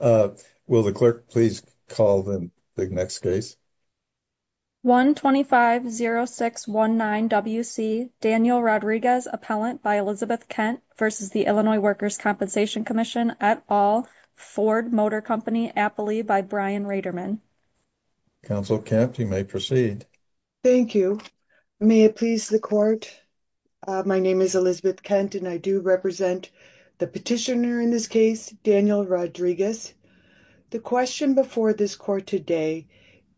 Will the clerk please call the next case. 1-250-619-WC Daniel Rodriguez, Appellant by Elizabeth Kent v. Illinois Workers' Compensation Comm'n et al., Ford Motor Company, Appley by Brian Reiderman. Counsel Kent, you may proceed. Thank you. May it please the court, My name is Elizabeth Kent and I do represent the petitioner in this case, Daniel Rodriguez. The question before this court today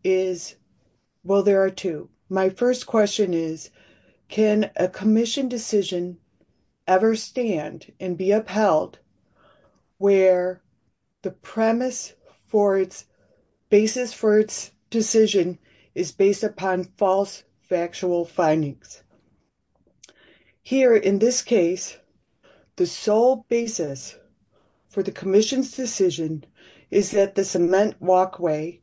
is, well there are two. My first question is, can a commission decision ever stand and be upheld where the premise for its basis for its decision is based upon false factual findings? Here in this case, the sole basis for the commission's decision is that the cement walkway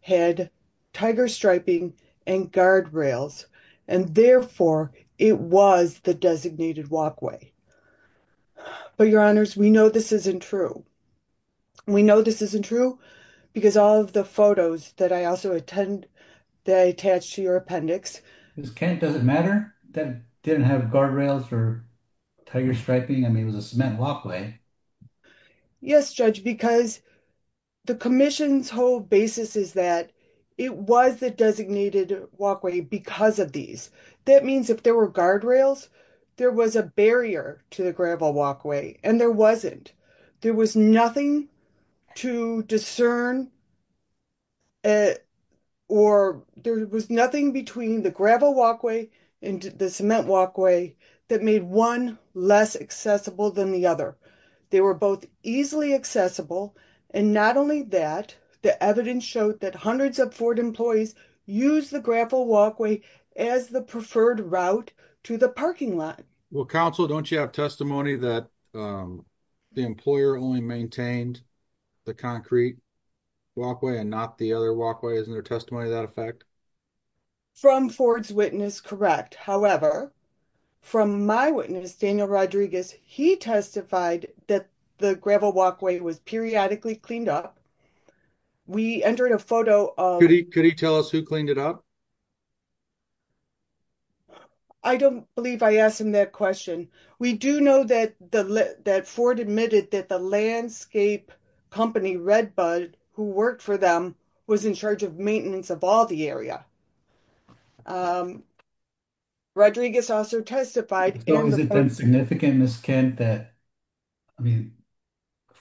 had tiger striping and guardrails and therefore it was the designated walkway. But your honors, we know this isn't true. We know this isn't true because all of the photos that I also attend that I attached to your appendix. Ms. Kent, does it matter that it didn't have guardrails or tiger striping? I mean, it was a cement walkway. Yes, Judge, because the commission's whole basis is that it was the designated walkway because of these. That means if there were guardrails, there was a barrier to the gravel walkway and there wasn't. There was nothing to discern or there was nothing between the gravel walkway and the cement walkway that made one less accessible than the other. They were both easily accessible and not only that, the evidence showed that hundreds of Ford employees used the gravel walkway as the preferred route to the parking lot. Well, counsel, don't you have testimony that the employer only maintained the concrete walkway and not the other walkway? Isn't there testimony to that effect? From Ford's witness, correct. However, from my witness, Daniel Rodriguez, he testified that the gravel walkway was periodically cleaned up. We entered a photo. Could he tell us who cleaned it up? I don't believe I asked him that question. We do know that Ford admitted that the landscape company Redbud who worked for them was in charge of maintenance of all the area. Rodriguez also testified. Has it been significant, Ms. Kent, that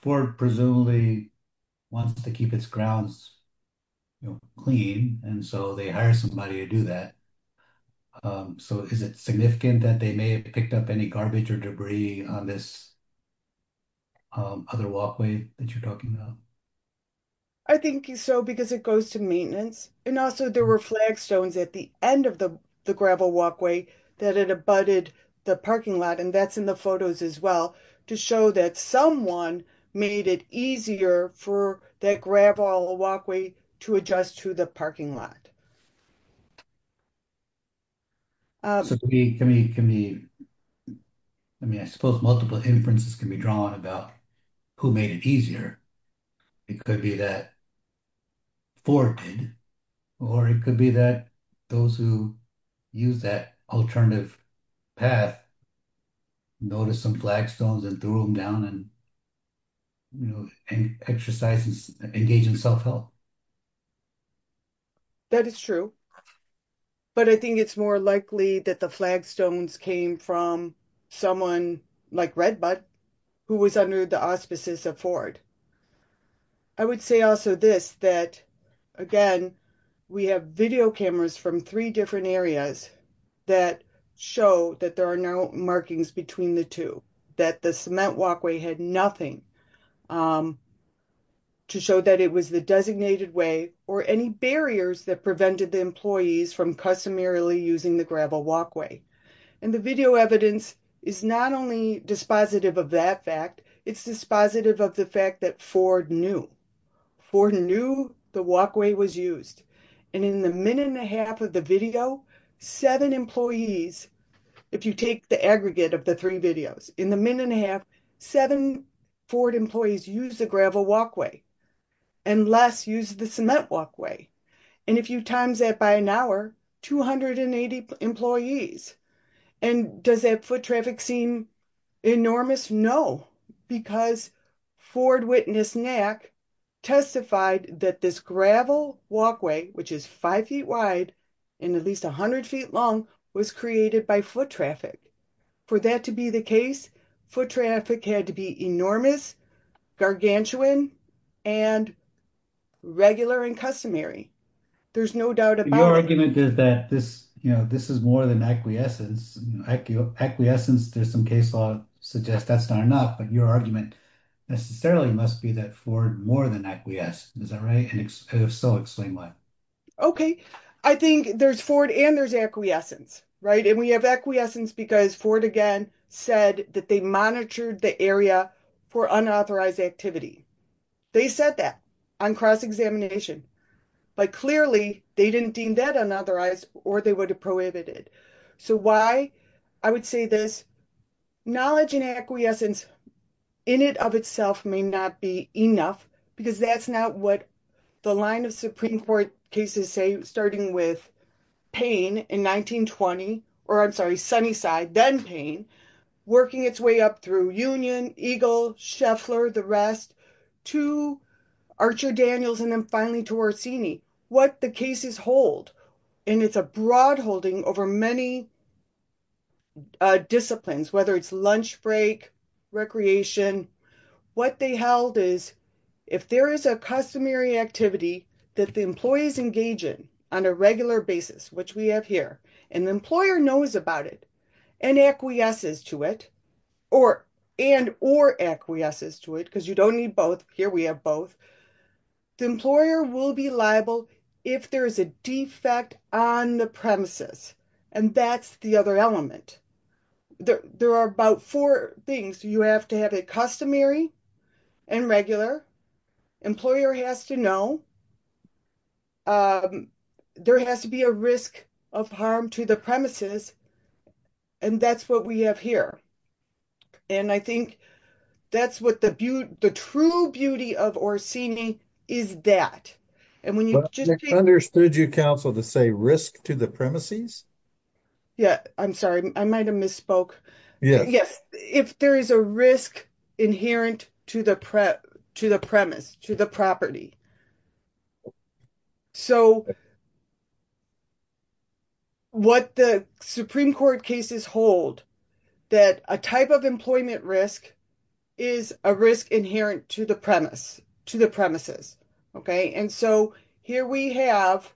Ford presumably wants to keep its grounds clean and so they hire somebody to do that? Is it significant that they may have picked up any garbage or debris on this other walkway that you're talking about? I think so because it goes to maintenance. Also, there were flagstones at the end of the gravel walkway that it abutted the parking lot, that's in the photos as well, to show that someone made it easier for that gravel walkway to adjust to the parking lot. I mean, I suppose multiple inferences can be drawn about who made it easier. It could be that Ford did, or it could be that those who used that alternative path noticed some flagstones and threw them down and exercised and engaged in self-help. That is true, but I think it's more likely that the flagstones came from someone like Redbud who was under the auspices of Ford. I would say also this, that again, we have video cameras from three different areas that show that there are no markings between the two, that the cement walkway had nothing to show that it was the designated way or any barriers that prevented the employees from customarily using the gravel walkway. And the video evidence is not only dispositive of that fact, it's dispositive of the fact that Ford knew. Ford knew the walkway was used, and in the minute and a half of the video, seven employees, if you take the aggregate of the three videos, in the minute and a half, seven Ford employees used the gravel walkway and less used the cement walkway. And if you times that by an hour, 280 employees. And does that foot traffic seem enormous? No, because Ford witness NAC testified that this gravel walkway, which is five feet wide and at least 100 feet long, was created by foot traffic. For that to be the case, foot traffic had to be enormous, gargantuan, and regular and customary. There's no doubt about it. You know, this is more than acquiescence. Acquiescence, there's some case law suggests that's not enough, but your argument necessarily must be that Ford more than acquiesced. Is that right? And if so, explain why. Okay. I think there's Ford and there's acquiescence, right? And we have acquiescence because Ford, again, said that they monitored the area for unauthorized activity. They said that on cross-examination, but clearly they didn't deem that unauthorized or they would have prohibited it. So why I would say this, knowledge and acquiescence in it of itself may not be enough because that's not what the line of Supreme Court cases say, starting with Payne in 1920, or I'm sorry, Sunnyside, then Payne, working its way up through Union, Eagle, Scheffler, the rest, to Archer Daniels, and then finally to Orsini. What the cases hold, and it's a broad holding over many disciplines, whether it's lunch break, recreation, what they held is if there is a customary activity that the employees engage in on a regular basis, which we have here, and the employer knows about it and acquiesces to it, and or acquiesces to it, because you don't need both. Here we have both. The employer will be liable if there is a defect on the premises, and that's the other element. There are about four things. You have to have a customary and regular. Employer has to know. There has to be a risk of harm to the premises, and that's what we have here. I think that's what the true beauty of Orsini is that, and when you just... I understood you, counsel, to say risk to the premises. Yeah, I'm sorry. I might have misspoke. Yes, if there is a risk inherent to the premise, to the property, so what the Supreme Court cases hold that a type of employment risk is a risk inherent to the premise, to the premises, okay? And so here we have...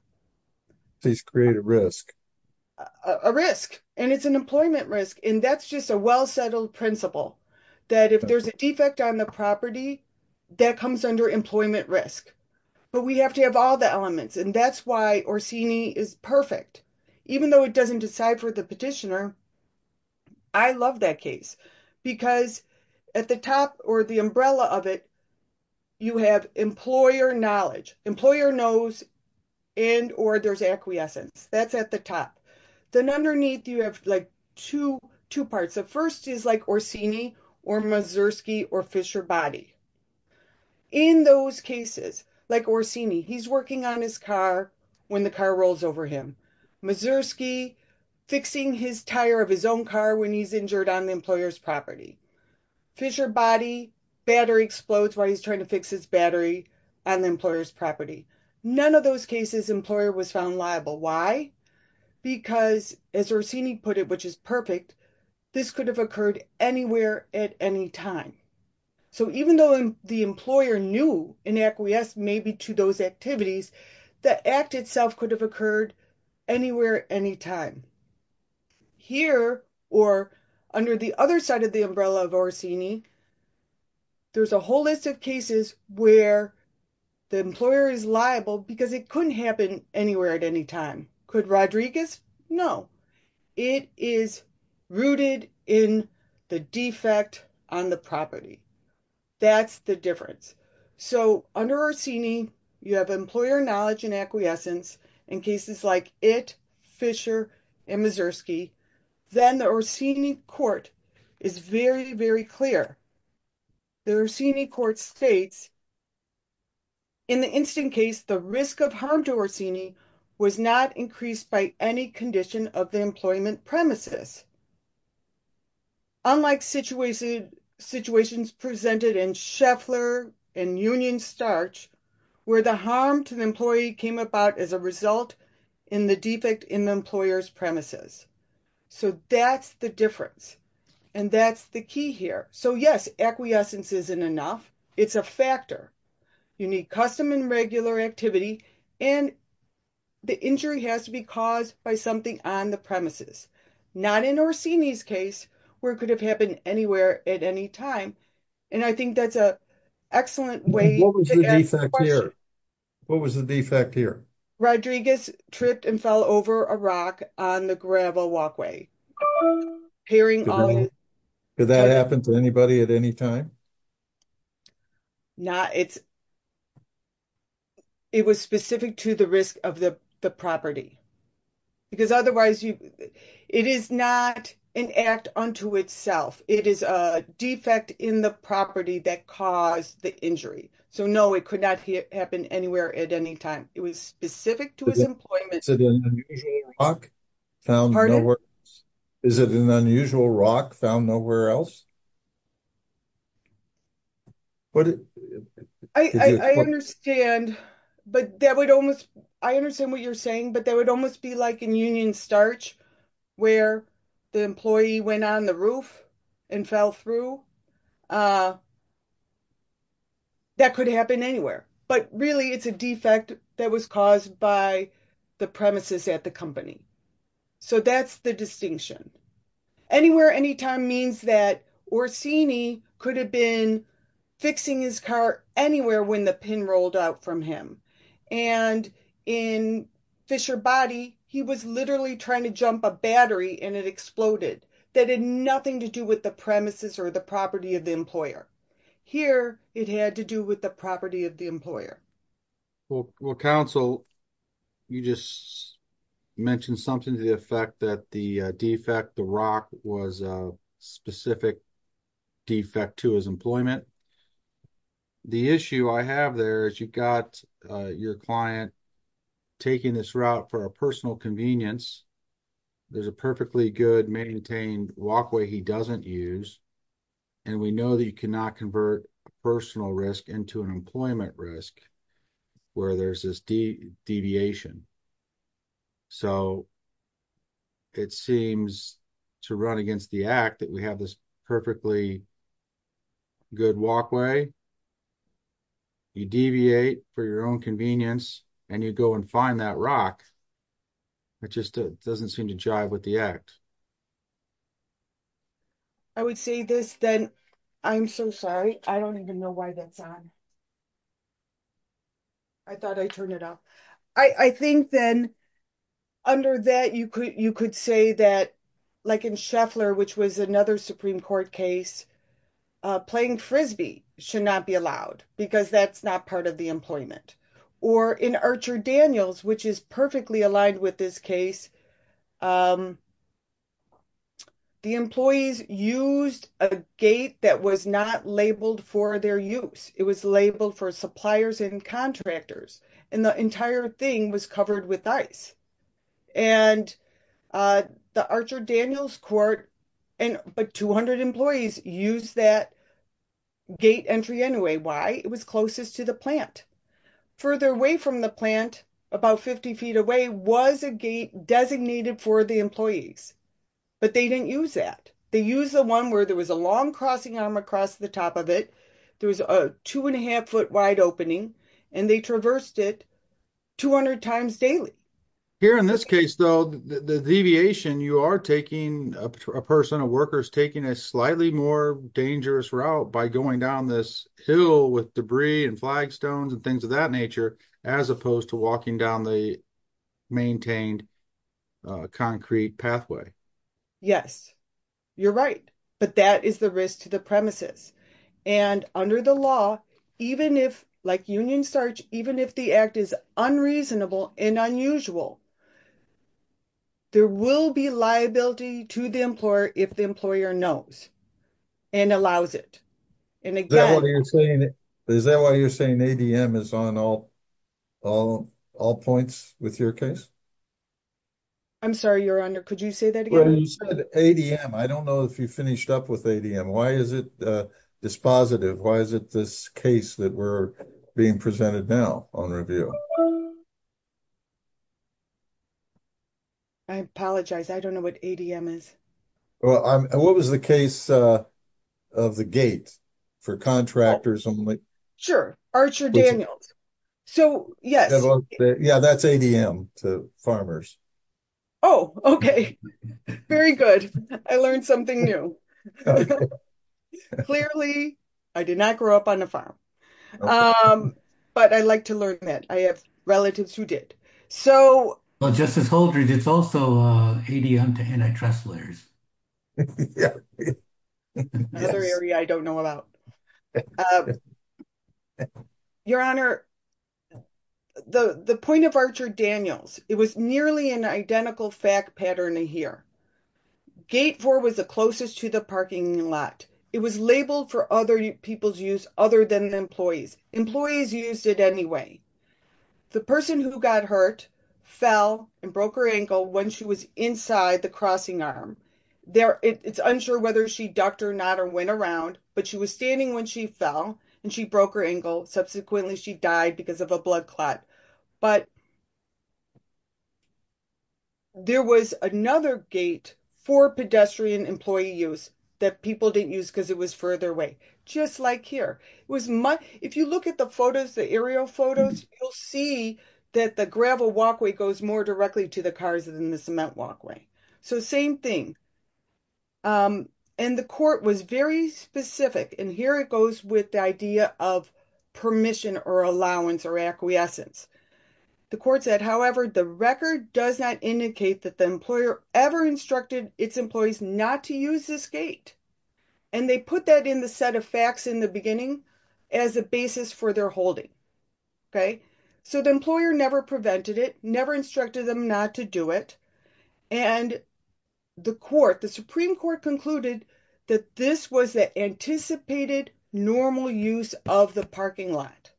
Please create a risk. A risk, and it's an employment risk, and that's just a well-settled principle that if there's a defect on the property that comes under employment risk. But we have to have all the elements, and that's why Orsini is perfect. Even though it doesn't decide for the petitioner, I love that case because at the top or the umbrella of it, you have employer knowledge. Employer knows and or there's acquiescence. That's at the top. Then underneath you have two parts. The first is like Orsini or Mazursky or Fisher Boddy. In those cases, like Orsini, he's working on his car when the car rolls over him. Mazursky, fixing his tire of his own car when he's injured on the employer's property. Fisher Boddy, battery explodes while he's trying to fix his battery on the employer's property. None of those cases, employer was found liable. Why? Because as Orsini put it, which is perfect, this could have occurred anywhere at any time. So even though the employer knew in acquiescence maybe to those activities, the act itself could have occurred anywhere, anytime. Here or under the other side of the umbrella of Orsini, there's a whole list of cases where the employer is liable because it couldn't happen anywhere at any time. Could Rodriguez? No. It is rooted in the defect on the property. That's the difference. So under Orsini, you have employer knowledge and acquiescence in cases like it, Fisher and Mazursky. Then the Orsini court is very, very clear. The Orsini court states in the instant case, the risk of harm to Orsini was not increased by any condition of the employment premises. Unlike situations presented in Scheffler and Union starch, where the harm to the employee came about as a result in the defect in the employer's premises. So that's the difference. And that's the key here. So yes, acquiescence isn't enough. It's a factor. You need custom and regular activity. And the injury has to be caused by something on the premises, not in Orsini's case, where it could have happened anywhere at any time. And I think that's an excellent way. What was the defect here? Rodriguez tripped and fell over a rock on the gravel walkway. Did that happen to anybody at any time? It was specific to the risk of the property. Because otherwise, it is not an act unto itself. It is a defect in the property that caused the injury. So no, it could not happen anywhere at any time. It was specific to his employment. Is it an unusual rock found nowhere else? I understand. But that would almost, I understand what you're saying. But that would almost be like in Union starch, where the employee went on the roof and fell through. That could happen anywhere. But really, it's a defect that was caused by the premises at the company. So that's the distinction. Anywhere, anytime means that Orsini could have been fixing his car anywhere when the pin rolled out from him. And in Fisher Body, he was literally trying to jump a battery and it exploded. That had nothing to do with the premises or the property of the employer. Here, it had to do with the property of the employer. Well, Council, you just mentioned something to the effect that the defect, the rock, was a specific defect to his employment. The issue I have there is you've got your client taking this route for a personal convenience, there's a perfectly good maintained walkway he doesn't use, and we know that you cannot convert a personal risk into an employment risk where there's this deviation. So it seems to run against the act that we have this perfectly good walkway. You deviate for your own convenience and you go and find that rock. It just doesn't seem to jive with the act. I would say this then. I'm so sorry. I don't even know why that's on. I thought I turned it off. I think then under that, you could say that, like in Scheffler, which was another Supreme Court case, playing Frisbee should not be allowed because that's not part of the employment. Or in Archer Daniels, which is perfectly aligned with this case, the employees used a gate that was not labeled for their use. It was labeled for suppliers and contractors. And the entire thing was covered with ice. And the Archer Daniels court, but 200 employees used that gate entry anyway. Why? It was closest to the plant. Further away from the plant, about 50 feet away, was a gate designated for the employees. But they didn't use that. They used the one where there was a long crossing arm across the top of it. There was a 2.5 foot wide opening and they traversed it 200 times daily. Here in this case, though, the deviation you are taking, a person, a worker is taking a slightly more dangerous route by going down this hill with debris and flagstones and things of that nature, as opposed to walking down the maintained concrete pathway. Yes, you're right. But that is the risk to the premises. And under the law, even if, like union search, even if the act is unreasonable and unusual, there will be liability to the employer if the employer knows and allows it. Is that why you're saying ADM is on all points with your case? I'm sorry, your honor. Could you say that again? ADM. I don't know if you finished up with ADM. Why is it dispositive? Why is it this case that we're being presented now on review? I apologize. I don't know what ADM is. Well, what was the case of the gate for contractors only? Sure. Archer Daniels. So, yes. Yeah, that's ADM to farmers. Oh, okay. Very good. I learned something new. Clearly, I did not grow up on a farm. But I'd like to learn that. I have relatives who did. Well, Justice Holdred, it's also ADM to antitrust lawyers. Another area I don't know about. Your honor, the point of Archer Daniels, it was nearly an identical fact pattern here. Gate 4 was the closest to the parking lot. It was labeled for other people's use other than employees. Employees used it anyway. The person who got hurt fell and broke her ankle when she was inside the crossing arm. It's unsure whether she ducked or not or went around, but she was standing when she fell and she broke her ankle. Subsequently, she died because of a blood clot. But there was another gate for pedestrian employee use that people didn't use because it was further away, just like here. If you look at the photos, the aerial photos, you'll see that the gravel walkway goes more directly to the cars than the cement walkway. So same thing. And the court was very specific. And here it goes with the idea of permission or allowance or acquiescence. The court said, however, the record does not indicate that the employer ever instructed its employees not to use this gate. And they put that in the set of facts in the beginning as a basis for their holding. OK, so the employer never prevented it, never instructed them not to do it. And the court, the Supreme Court, concluded that this was the anticipated normal use of the parking lot.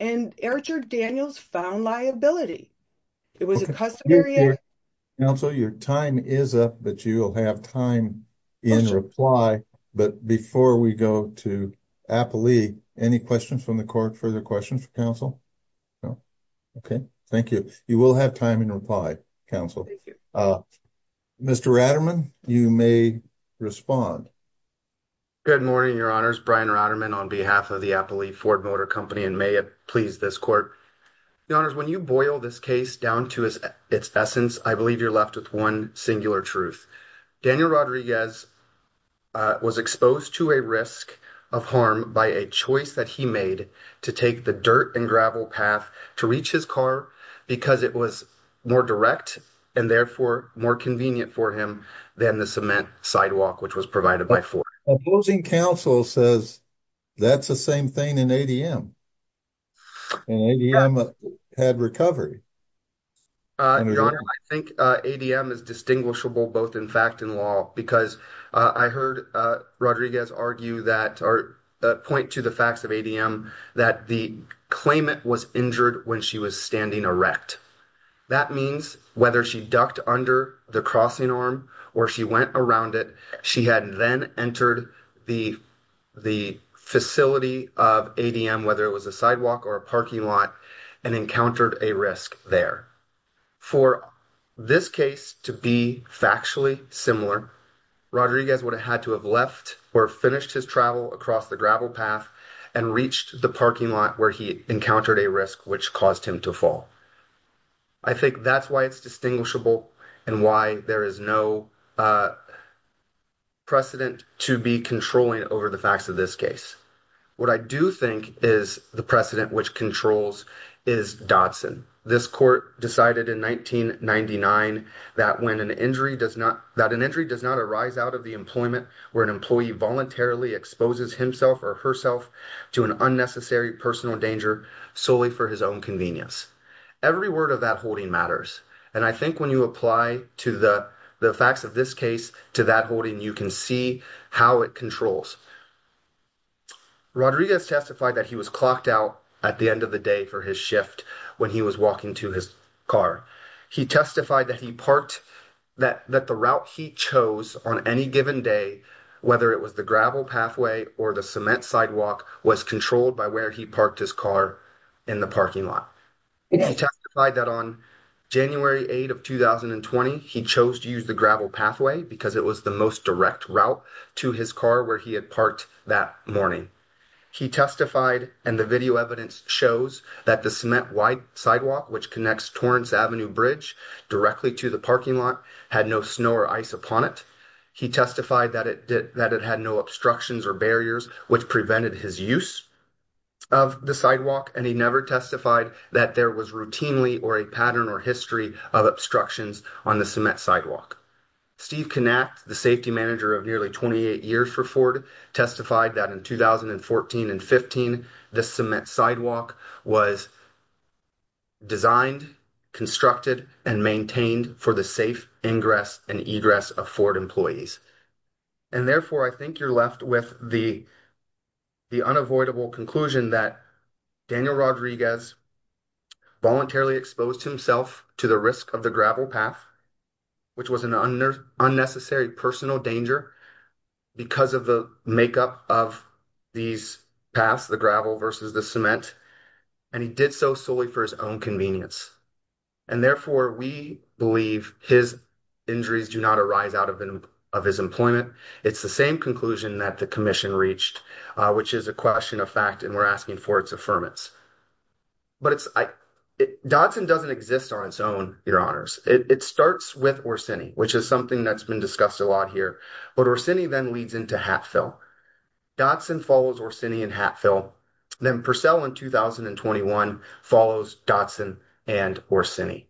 And Erichard Daniels found liability. It was a customary. Counsel, your time is up, but you will have time in reply. But before we go to Applee, any questions from the court? Further questions for counsel? No. OK, thank you. You will have time in reply, counsel. Mr. Raderman, you may respond. Good morning, Your Honors. Brian Raderman on behalf of the Applee Ford Motor Company, and may it please this court. Your Honors, when you boil this case down to its essence, I believe you're left with one singular truth. Daniel Rodriguez was exposed to a risk of harm by a choice that he made to take the dirt and gravel path to reach his car because it was more direct and therefore more convenient for him than the cement sidewalk which was provided by Ford. Opposing counsel says that's the same thing in ADM. And ADM had recovery. Your Honor, I think Rodriguez argue that or point to the facts of ADM that the claimant was injured when she was standing erect. That means whether she ducked under the crossing arm or she went around it, she had then entered the facility of ADM, whether it was a sidewalk or a parking lot, and encountered a risk there. For this case to be factually similar, Rodriguez would have had left or finished his travel across the gravel path and reached the parking lot where he encountered a risk which caused him to fall. I think that's why it's distinguishable and why there is no precedent to be controlling over the facts of this case. What I do think is the precedent which controls is Dodson. This court decided in 1999 that when an injury does not, an injury does not arise out of the employment where an employee voluntarily exposes himself or herself to an unnecessary personal danger solely for his own convenience. Every word of that holding matters. And I think when you apply to the facts of this case to that holding, you can see how it controls. Rodriguez testified that he was clocked out at the end of the day for his shift when he was walking to his car. He testified that he parked, that the route he chose on any given day, whether it was the gravel pathway or the cement sidewalk, was controlled by where he parked his car in the parking lot. He testified that on January 8th of 2020, he chose to use the gravel pathway because it was the most direct route to his car where he had parked that morning. He testified, and the video evidence shows, that the cement-wide sidewalk which connects Torrance Avenue Bridge directly to the parking lot had no snow or ice upon it. He testified that it did, that it had no obstructions or barriers which prevented his use of the sidewalk, and he never testified that there was routinely or a pattern or history of obstructions on the cement sidewalk. Steve Knacht, the safety manager of nearly 28 years for Ford, testified that in 2014 and 2015, the cement sidewalk was designed, constructed, and maintained for the safe ingress and egress of Ford employees. And therefore, I think you're left with the unavoidable conclusion that Daniel Rodriguez voluntarily exposed himself to the risk of the gravel path, which was an unnecessary personal danger because of the makeup of these paths, the gravel versus the cement, and he did so solely for his own convenience. And therefore, we believe his injuries do not arise out of his employment. It's the same conclusion that the commission reached, which is a question of fact, and we're asking for its permits. But Dodson doesn't exist on its own, your honors. It starts with Orsini, which is something that's been discussed a lot here, but Orsini then leads into Hatfill. Dodson follows Orsini and Hatfill, then Purcell in 2021 follows Dodson and Orsini.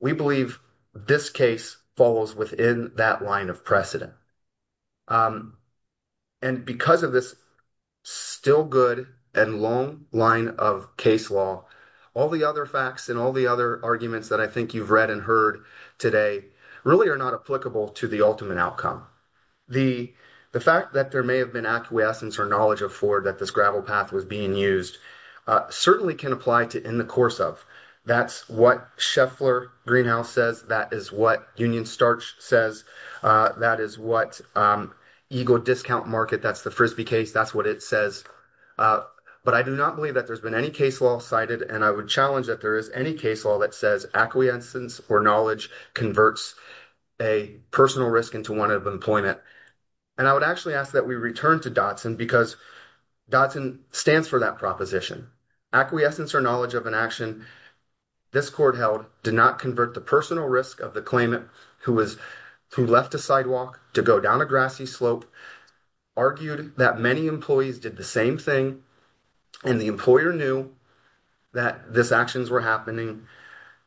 We believe this case falls within that line of precedent. And because of this still good and long line of case law, all the other facts and all the other arguments that I think you've read and heard today really are not applicable to the ultimate outcome. The fact that there may have been acquiescence or knowledge of Ford that this gravel path was being used certainly can apply to in the course of. That's what Scheffler Greenhouse says. That is what Union Starch says. That is what Eagle Discount Market, that's the Frisbee case. That's what it says. But I do not believe that there's been any case law cited, and I would challenge that there is any case law that says acquiescence or knowledge converts a personal risk into one of employment. And I would actually ask that we return to Dodson because Dodson stands for that proposition. Acquiescence or knowledge of an action this court held did not convert the personal risk of the claimant who left a sidewalk to go down a grassy slope, argued that many employees did the same thing, and the employer knew that this actions were happening.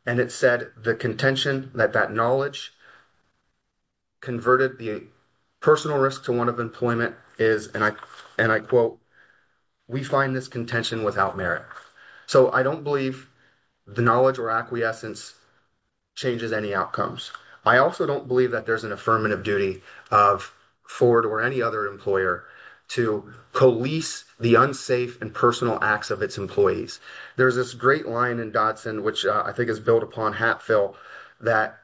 And it said the contention that that knowledge converted the personal risk to one of employment is, and I quote, we find this contention without merit. So I don't believe the knowledge or acquiescence changes any outcomes. I also don't believe that there's an affirmative duty of Ford or any other employer to police the unsafe and personal acts of its employees. There's this great line in Dodson which I think is built upon Hatfield that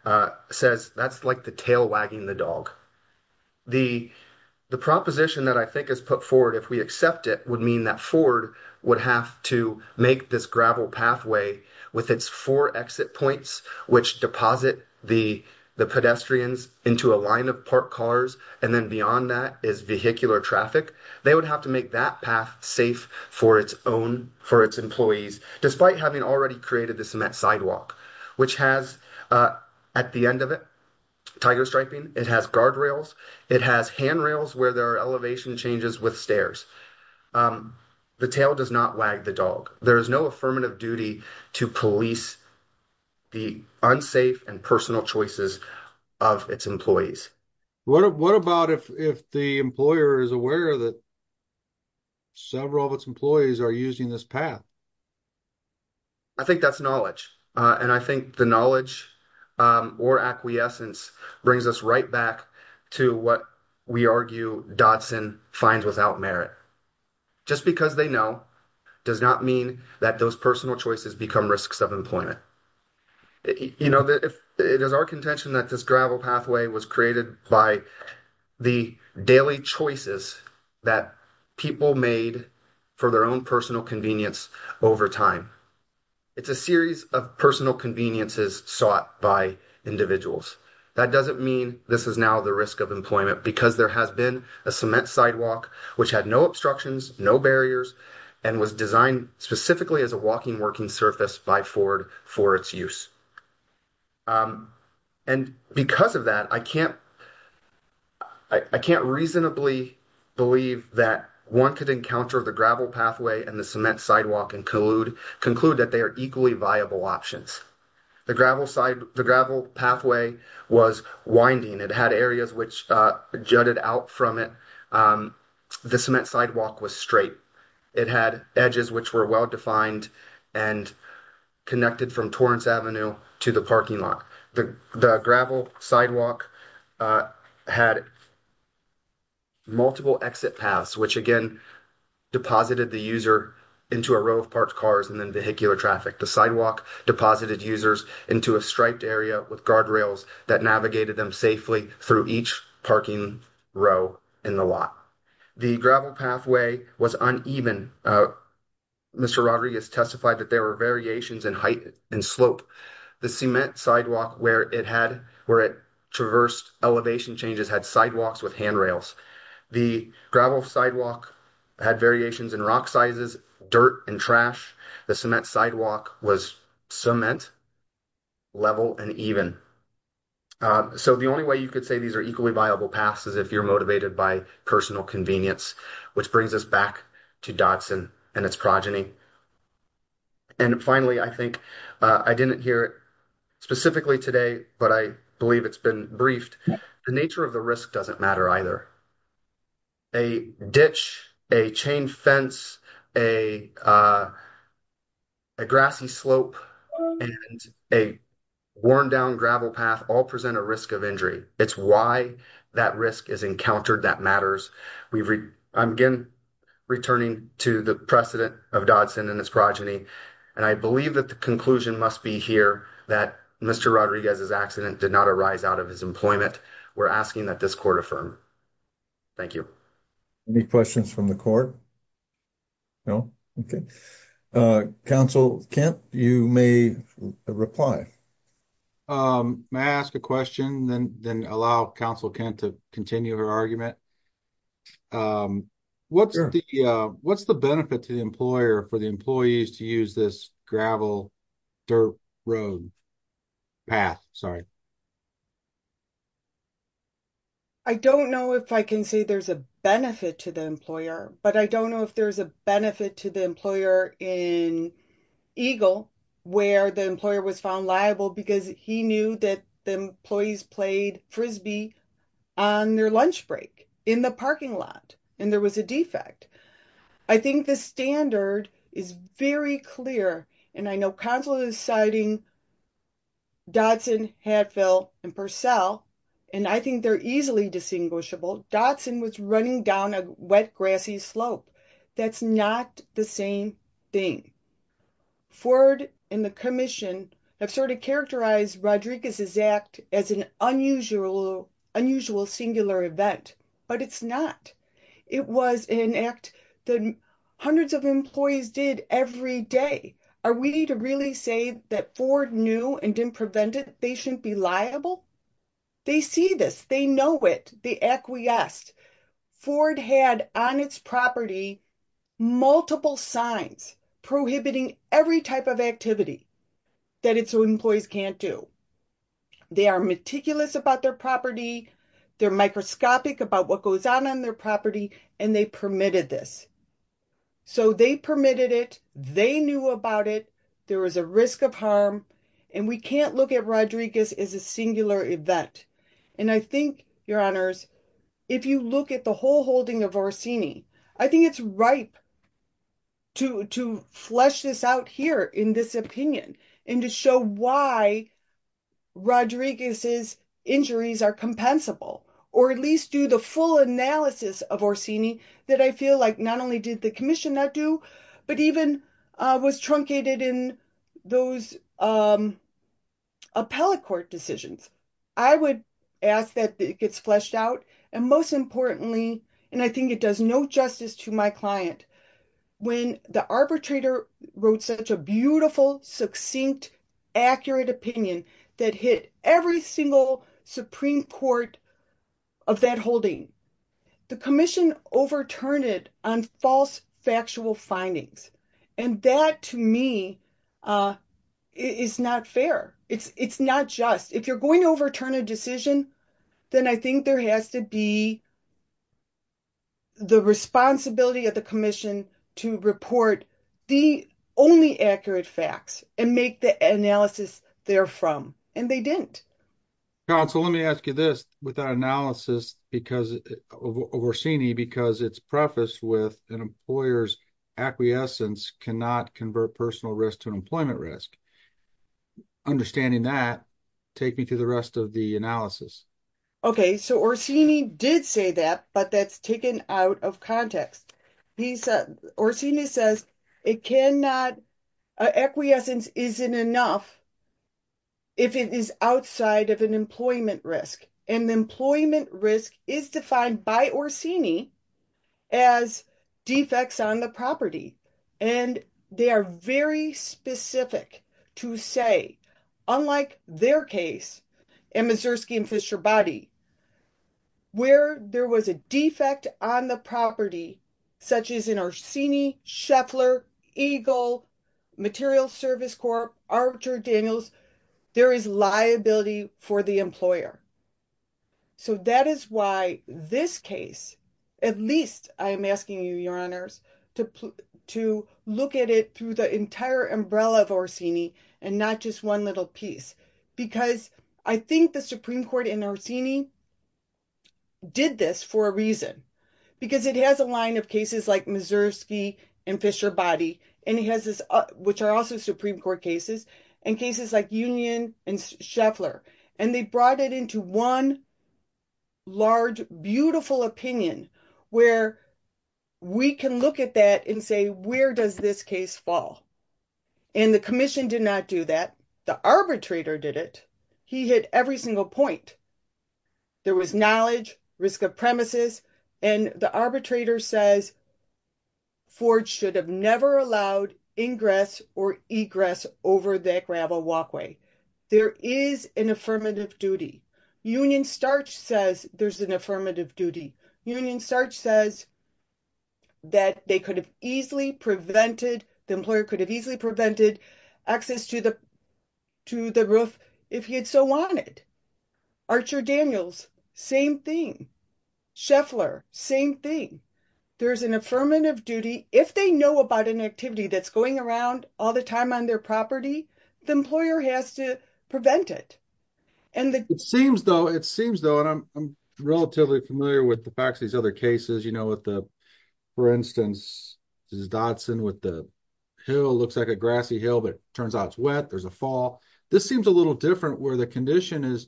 says that's like the tail wagging the dog. The proposition that I think is put forward, if we accept it, would mean that Ford would have to make this gravel pathway with its four exit points, which deposit the pedestrians into a line of parked cars, and then beyond that is vehicular traffic. They would have to make that path safe for its own, for its employees, despite having already created the cement sidewalk, which has, at the end of it, tiger striping. It has guardrails. It has handrails where there are elevation changes with stairs. The tail does not wag the dog. There is no affirmative duty to police the unsafe and personal choices of its employees. What about if the employer is aware that several of its employees are using this path? I think that's knowledge, and I think the knowledge or acquiescence brings us right back to what we argue Dodson finds without merit. Just because they know does not mean that those personal choices become risks of employment. It is our people made for their own personal convenience over time. It's a series of personal conveniences sought by individuals. That doesn't mean this is now the risk of employment because there has been a cement sidewalk which had no obstructions, no barriers, and was designed specifically as a walking working surface by Ford for its use. Because of that, I can't reasonably believe that one could encounter the gravel pathway and the cement sidewalk and conclude that they are equally viable options. The gravel pathway was winding. It had areas which jutted out from it. The cement sidewalk was straight. It had edges which were well-defined and connected from Torrance Avenue to the parking lot. The gravel sidewalk had multiple exit paths which deposited the user into a row of parked cars and then vehicular traffic. The sidewalk deposited users into a striped area with guardrails that navigated them safely through each parking row in the lot. The gravel pathway was uneven. Mr. Rodriguez testified that there were variations in height and slope. The cement sidewalk where it traversed elevation changes had sidewalks with handrails. The gravel sidewalk had variations in rock sizes, dirt, and trash. The cement sidewalk was cement, level, and even. So the only way you could say these are equally viable paths is if you're motivated by personal convenience, which brings us back to Dodson and its progeny. And finally, I think I didn't hear it specifically today, but I believe it's been briefed. The nature of the risk doesn't matter either. A ditch, a chain fence, a grassy slope, and a worn-down gravel path all present a risk of injury. It's why that risk is encountered that matters. I'm again returning to the precedent of Dodson and its progeny, and I believe that the conclusion must be here that Mr. Rodriguez's accident did not arise out of his employment. We're asking that this court affirm. Thank you. Any questions from the court? No? Okay. Council Kent, you may reply. May I ask a question and then allow Council Kent to continue her argument? Sure. What's the benefit to the employer for the employees to use this gravel dirt road path? Sorry. I don't know if I can say there's a benefit to the employer, but I don't know if there's a benefit to the employer in Eagle where the employer was found liable because he knew that the employees played frisbee on their lunch break in the parking lot, and there was a defect. I think the standard is very clear, and I know Council is citing Dodson, Hatfield, and Purcell, and I think they're easily distinguishable. Dodson was running down a wet grassy slope. That's not the same thing. Ford and the commission have sort of characterized Rodriguez's act as an unusual singular event, but it's not. It was an act that hundreds of employees did every day. Are we to really say that Ford knew and didn't prevent it? They shouldn't be liable? They see this. They know it. They acquiesced. Ford had on its property multiple signs prohibiting every type of activity that its employees can't do. They are meticulous about their property. They're microscopic about what goes on on their property, and they permitted this. So they permitted it. They knew about it. There was a risk of harm, and we can't look at Rodriguez as a singular event, and I think, Your Honors, if you look at the whole holding of Orsini, I think it's ripe to flesh this out here in this opinion and to show why Rodriguez's injuries are compensable or at least do the full analysis of Orsini that I feel like not only did the commission not do, but even was truncated in those appellate court decisions. I would ask that it gets fleshed out, and most importantly, and I think it does no justice to my client, when the arbitrator wrote such a beautiful, succinct, accurate opinion that hit every single Supreme Court of that holding. The commission overturned it on false factual findings, and that, to me, is not fair. It's not just. If you're going to overturn a decision, then I think there has to be the responsibility of the commission to report the only accurate facts and make the analysis therefrom, and they didn't. Counsel, let me ask you this with that analysis of Orsini because it's prefaced with an employer's acquiescence cannot convert personal risk to employment risk. Understanding that, take me to the rest of the analysis. Okay, so Orsini did say that, but that's taken out of context. Orsini says it cannot, an acquiescence isn't enough if it is outside of an employment risk, and employment risk is defined by Orsini as defects on the property, and they are very specific to say, unlike their case in Mazursky and Fischer-Body, where there was a defect on the property, such as in Orsini, Scheffler, Eagle, Materials Service Corp., Arbiter Daniels, there is liability for the employer. So that is why this case, at least I'm asking you, your honors, to look at it through the entire umbrella of Orsini and not just one little piece because I think the Supreme Court in Orsini did this for a reason, because it has a line of cases like Mazursky and Fischer-Body, and it has this, which are also Supreme Court cases, and cases like Union and Scheffler, and they brought it into one large, beautiful opinion where we can look at that and say, where does this case fall? And the commission did not do that. The arbitrator did it. He hit every single point. There was knowledge, risk of premises, and the arbitrator says Forge should have never allowed ingress or egress over that gravel walkway. There is an affirmative duty. Union-Starch says there's an affirmative duty. Union-Starch says that they could have easily prevented, the employer could have easily prevented access to the roof if he had so wanted. Archer-Daniels, same thing. Scheffler, same thing. There's an affirmative duty. If they know about an activity that's going around all the time on their property, the employer has to prevent it. It seems though, it seems though, and I'm relatively familiar with the facts of these other cases, you know, with the, for instance, this is Dodson with the hill, looks like a grassy hill, but it turns out it's wet. There's a fall. This seems a little different where the condition is,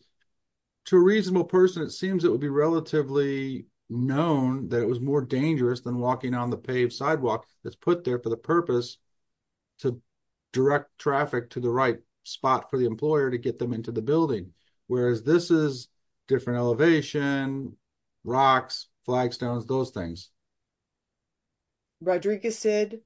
to a reasonable person, it seems it would be relatively known that it was more dangerous than walking on the paved sidewalk that's put there for the purpose to direct traffic to the right spot for the employer to get them into the building. Whereas this is different elevation, rocks, flagstones, those things. Rodriguez said,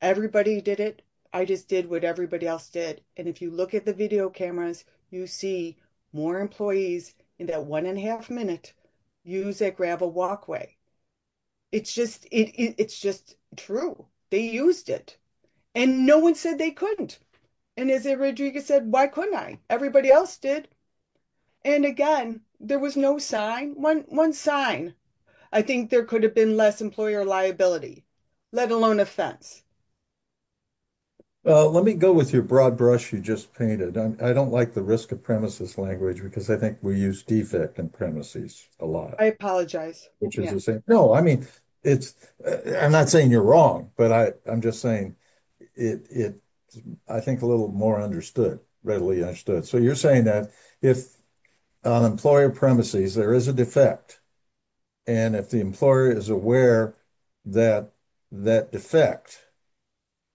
everybody did it. I just did what everybody else did. And if you look at the video cameras, you see more employees in that one and a half minute use that gravel walkway. It's just, it's just true. They used it. And no one said they couldn't. And as Rodriguez said, why couldn't I? Everybody else did. And again, there was no sign, one sign. I think there could have been less employer liability, let alone offense. Well, let me go with your broad brush you just painted. I don't like the risk of premises language because I think we use defect and premises a lot. I apologize. No, I mean, it's, I'm not saying you're wrong, but I'm just saying it, I think a little more understood, readily understood. So you're saying that if on employer premises, there is a defect. And if the employer is aware that that defect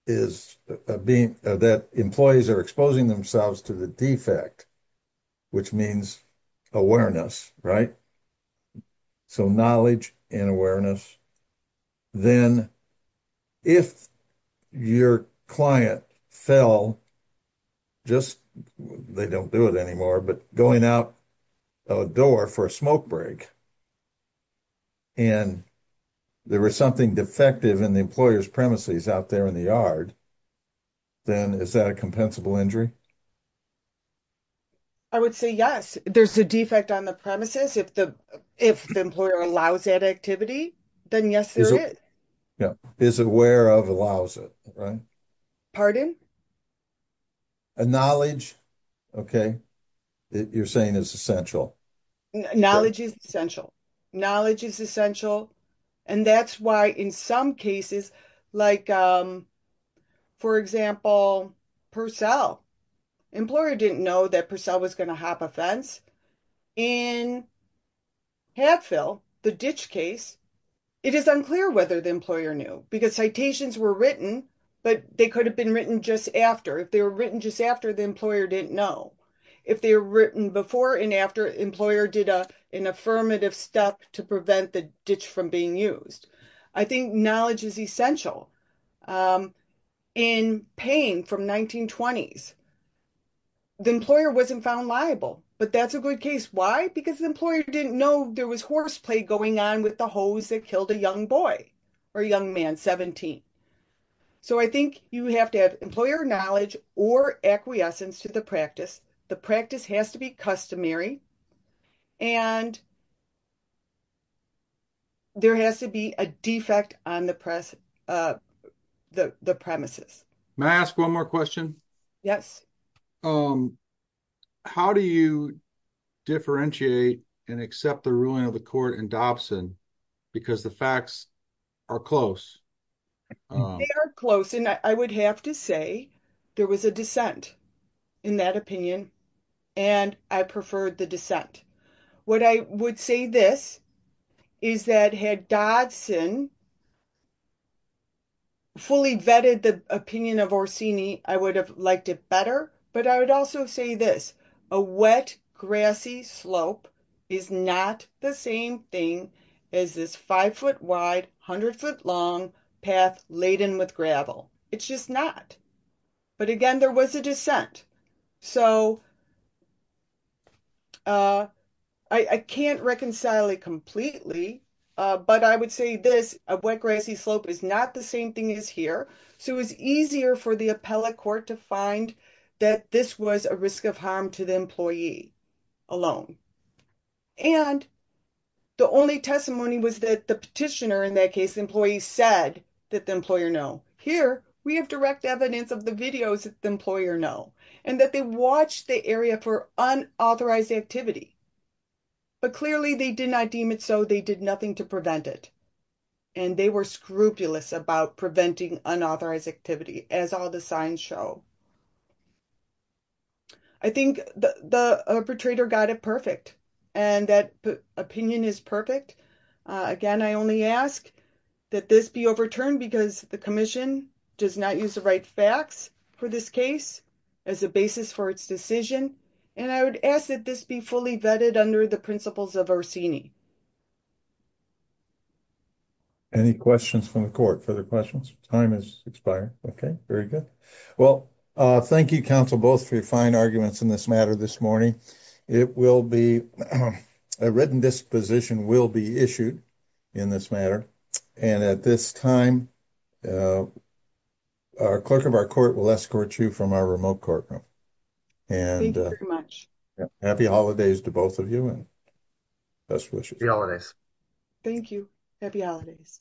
is being, that employees are exposing themselves to the defect, which means awareness, right? So knowledge and awareness, then if your client fell, just, they don't do it anymore, but going out a door for a smoke break, and there was something defective in the employer's premises out there in the yard, then is that a compensable injury? I would say yes. There's a defect on the if the employer allows that activity, then yes, there is. Yeah. Is aware of allows it, right? Pardon? A knowledge. Okay. You're saying is essential. Knowledge is essential. Knowledge is essential. And that's why in some cases, like, for example, Purcell, employer didn't know that Purcell was going to hop a fence. In Hadfield, the ditch case, it is unclear whether the employer knew because citations were written, but they could have been written just after if they were written just after the employer didn't know if they're written before and after employer did an affirmative step to prevent the ditch from being used. I think the employer wasn't found liable, but that's a good case. Why? Because the employer didn't know there was horseplay going on with the hose that killed a young boy or young man, 17. So I think you have to have employer knowledge or acquiescence to the practice. The practice has to be customary and there has to be a defect on the press, the premises. May I ask one more question? Yes. How do you differentiate and accept the ruling of the court in Dobson? Because the facts are close. They are close. And I would have to say there was a dissent in that opinion, and I preferred the dissent. What I would say this is that had Dodson fully vetted the opinion of Orsini, I would have liked it better. But I would also say this, a wet, grassy slope is not the same thing as this five foot wide, hundred foot long path laden with gravel. It's just not. But again, there was a dissent. So I can't reconcile it completely. But I would say this, a wet, grassy slope is not the same thing as here. So it was easier for the appellate court to find that this was a risk of harm to the employee alone. And the only testimony was that the petitioner, in that case, the employee said that the employer know. Here, we have direct evidence of the videos that the employer know and that they watched the area for unauthorized activity. But clearly, they did not deem it so. They did nothing to prevent it. And they were scrupulous about preventing unauthorized activity, as all the signs show. I think the arbitrator got it perfect. And that opinion is perfect. Again, I only ask that this be overturned because the commission does not use the right facts for this case. As a basis for its decision. And I would ask that this be fully vetted under the principles of Orsini. Any questions from the court? Further questions? Time has expired. Okay, very good. Well, thank you, counsel, both for your fine arguments in this matter this morning. It will be a written disposition will be issued in this matter. And at this time, our clerk of our court will escort you from our remote courtroom. And happy holidays to both of you and best wishes. Thank you. Happy holidays.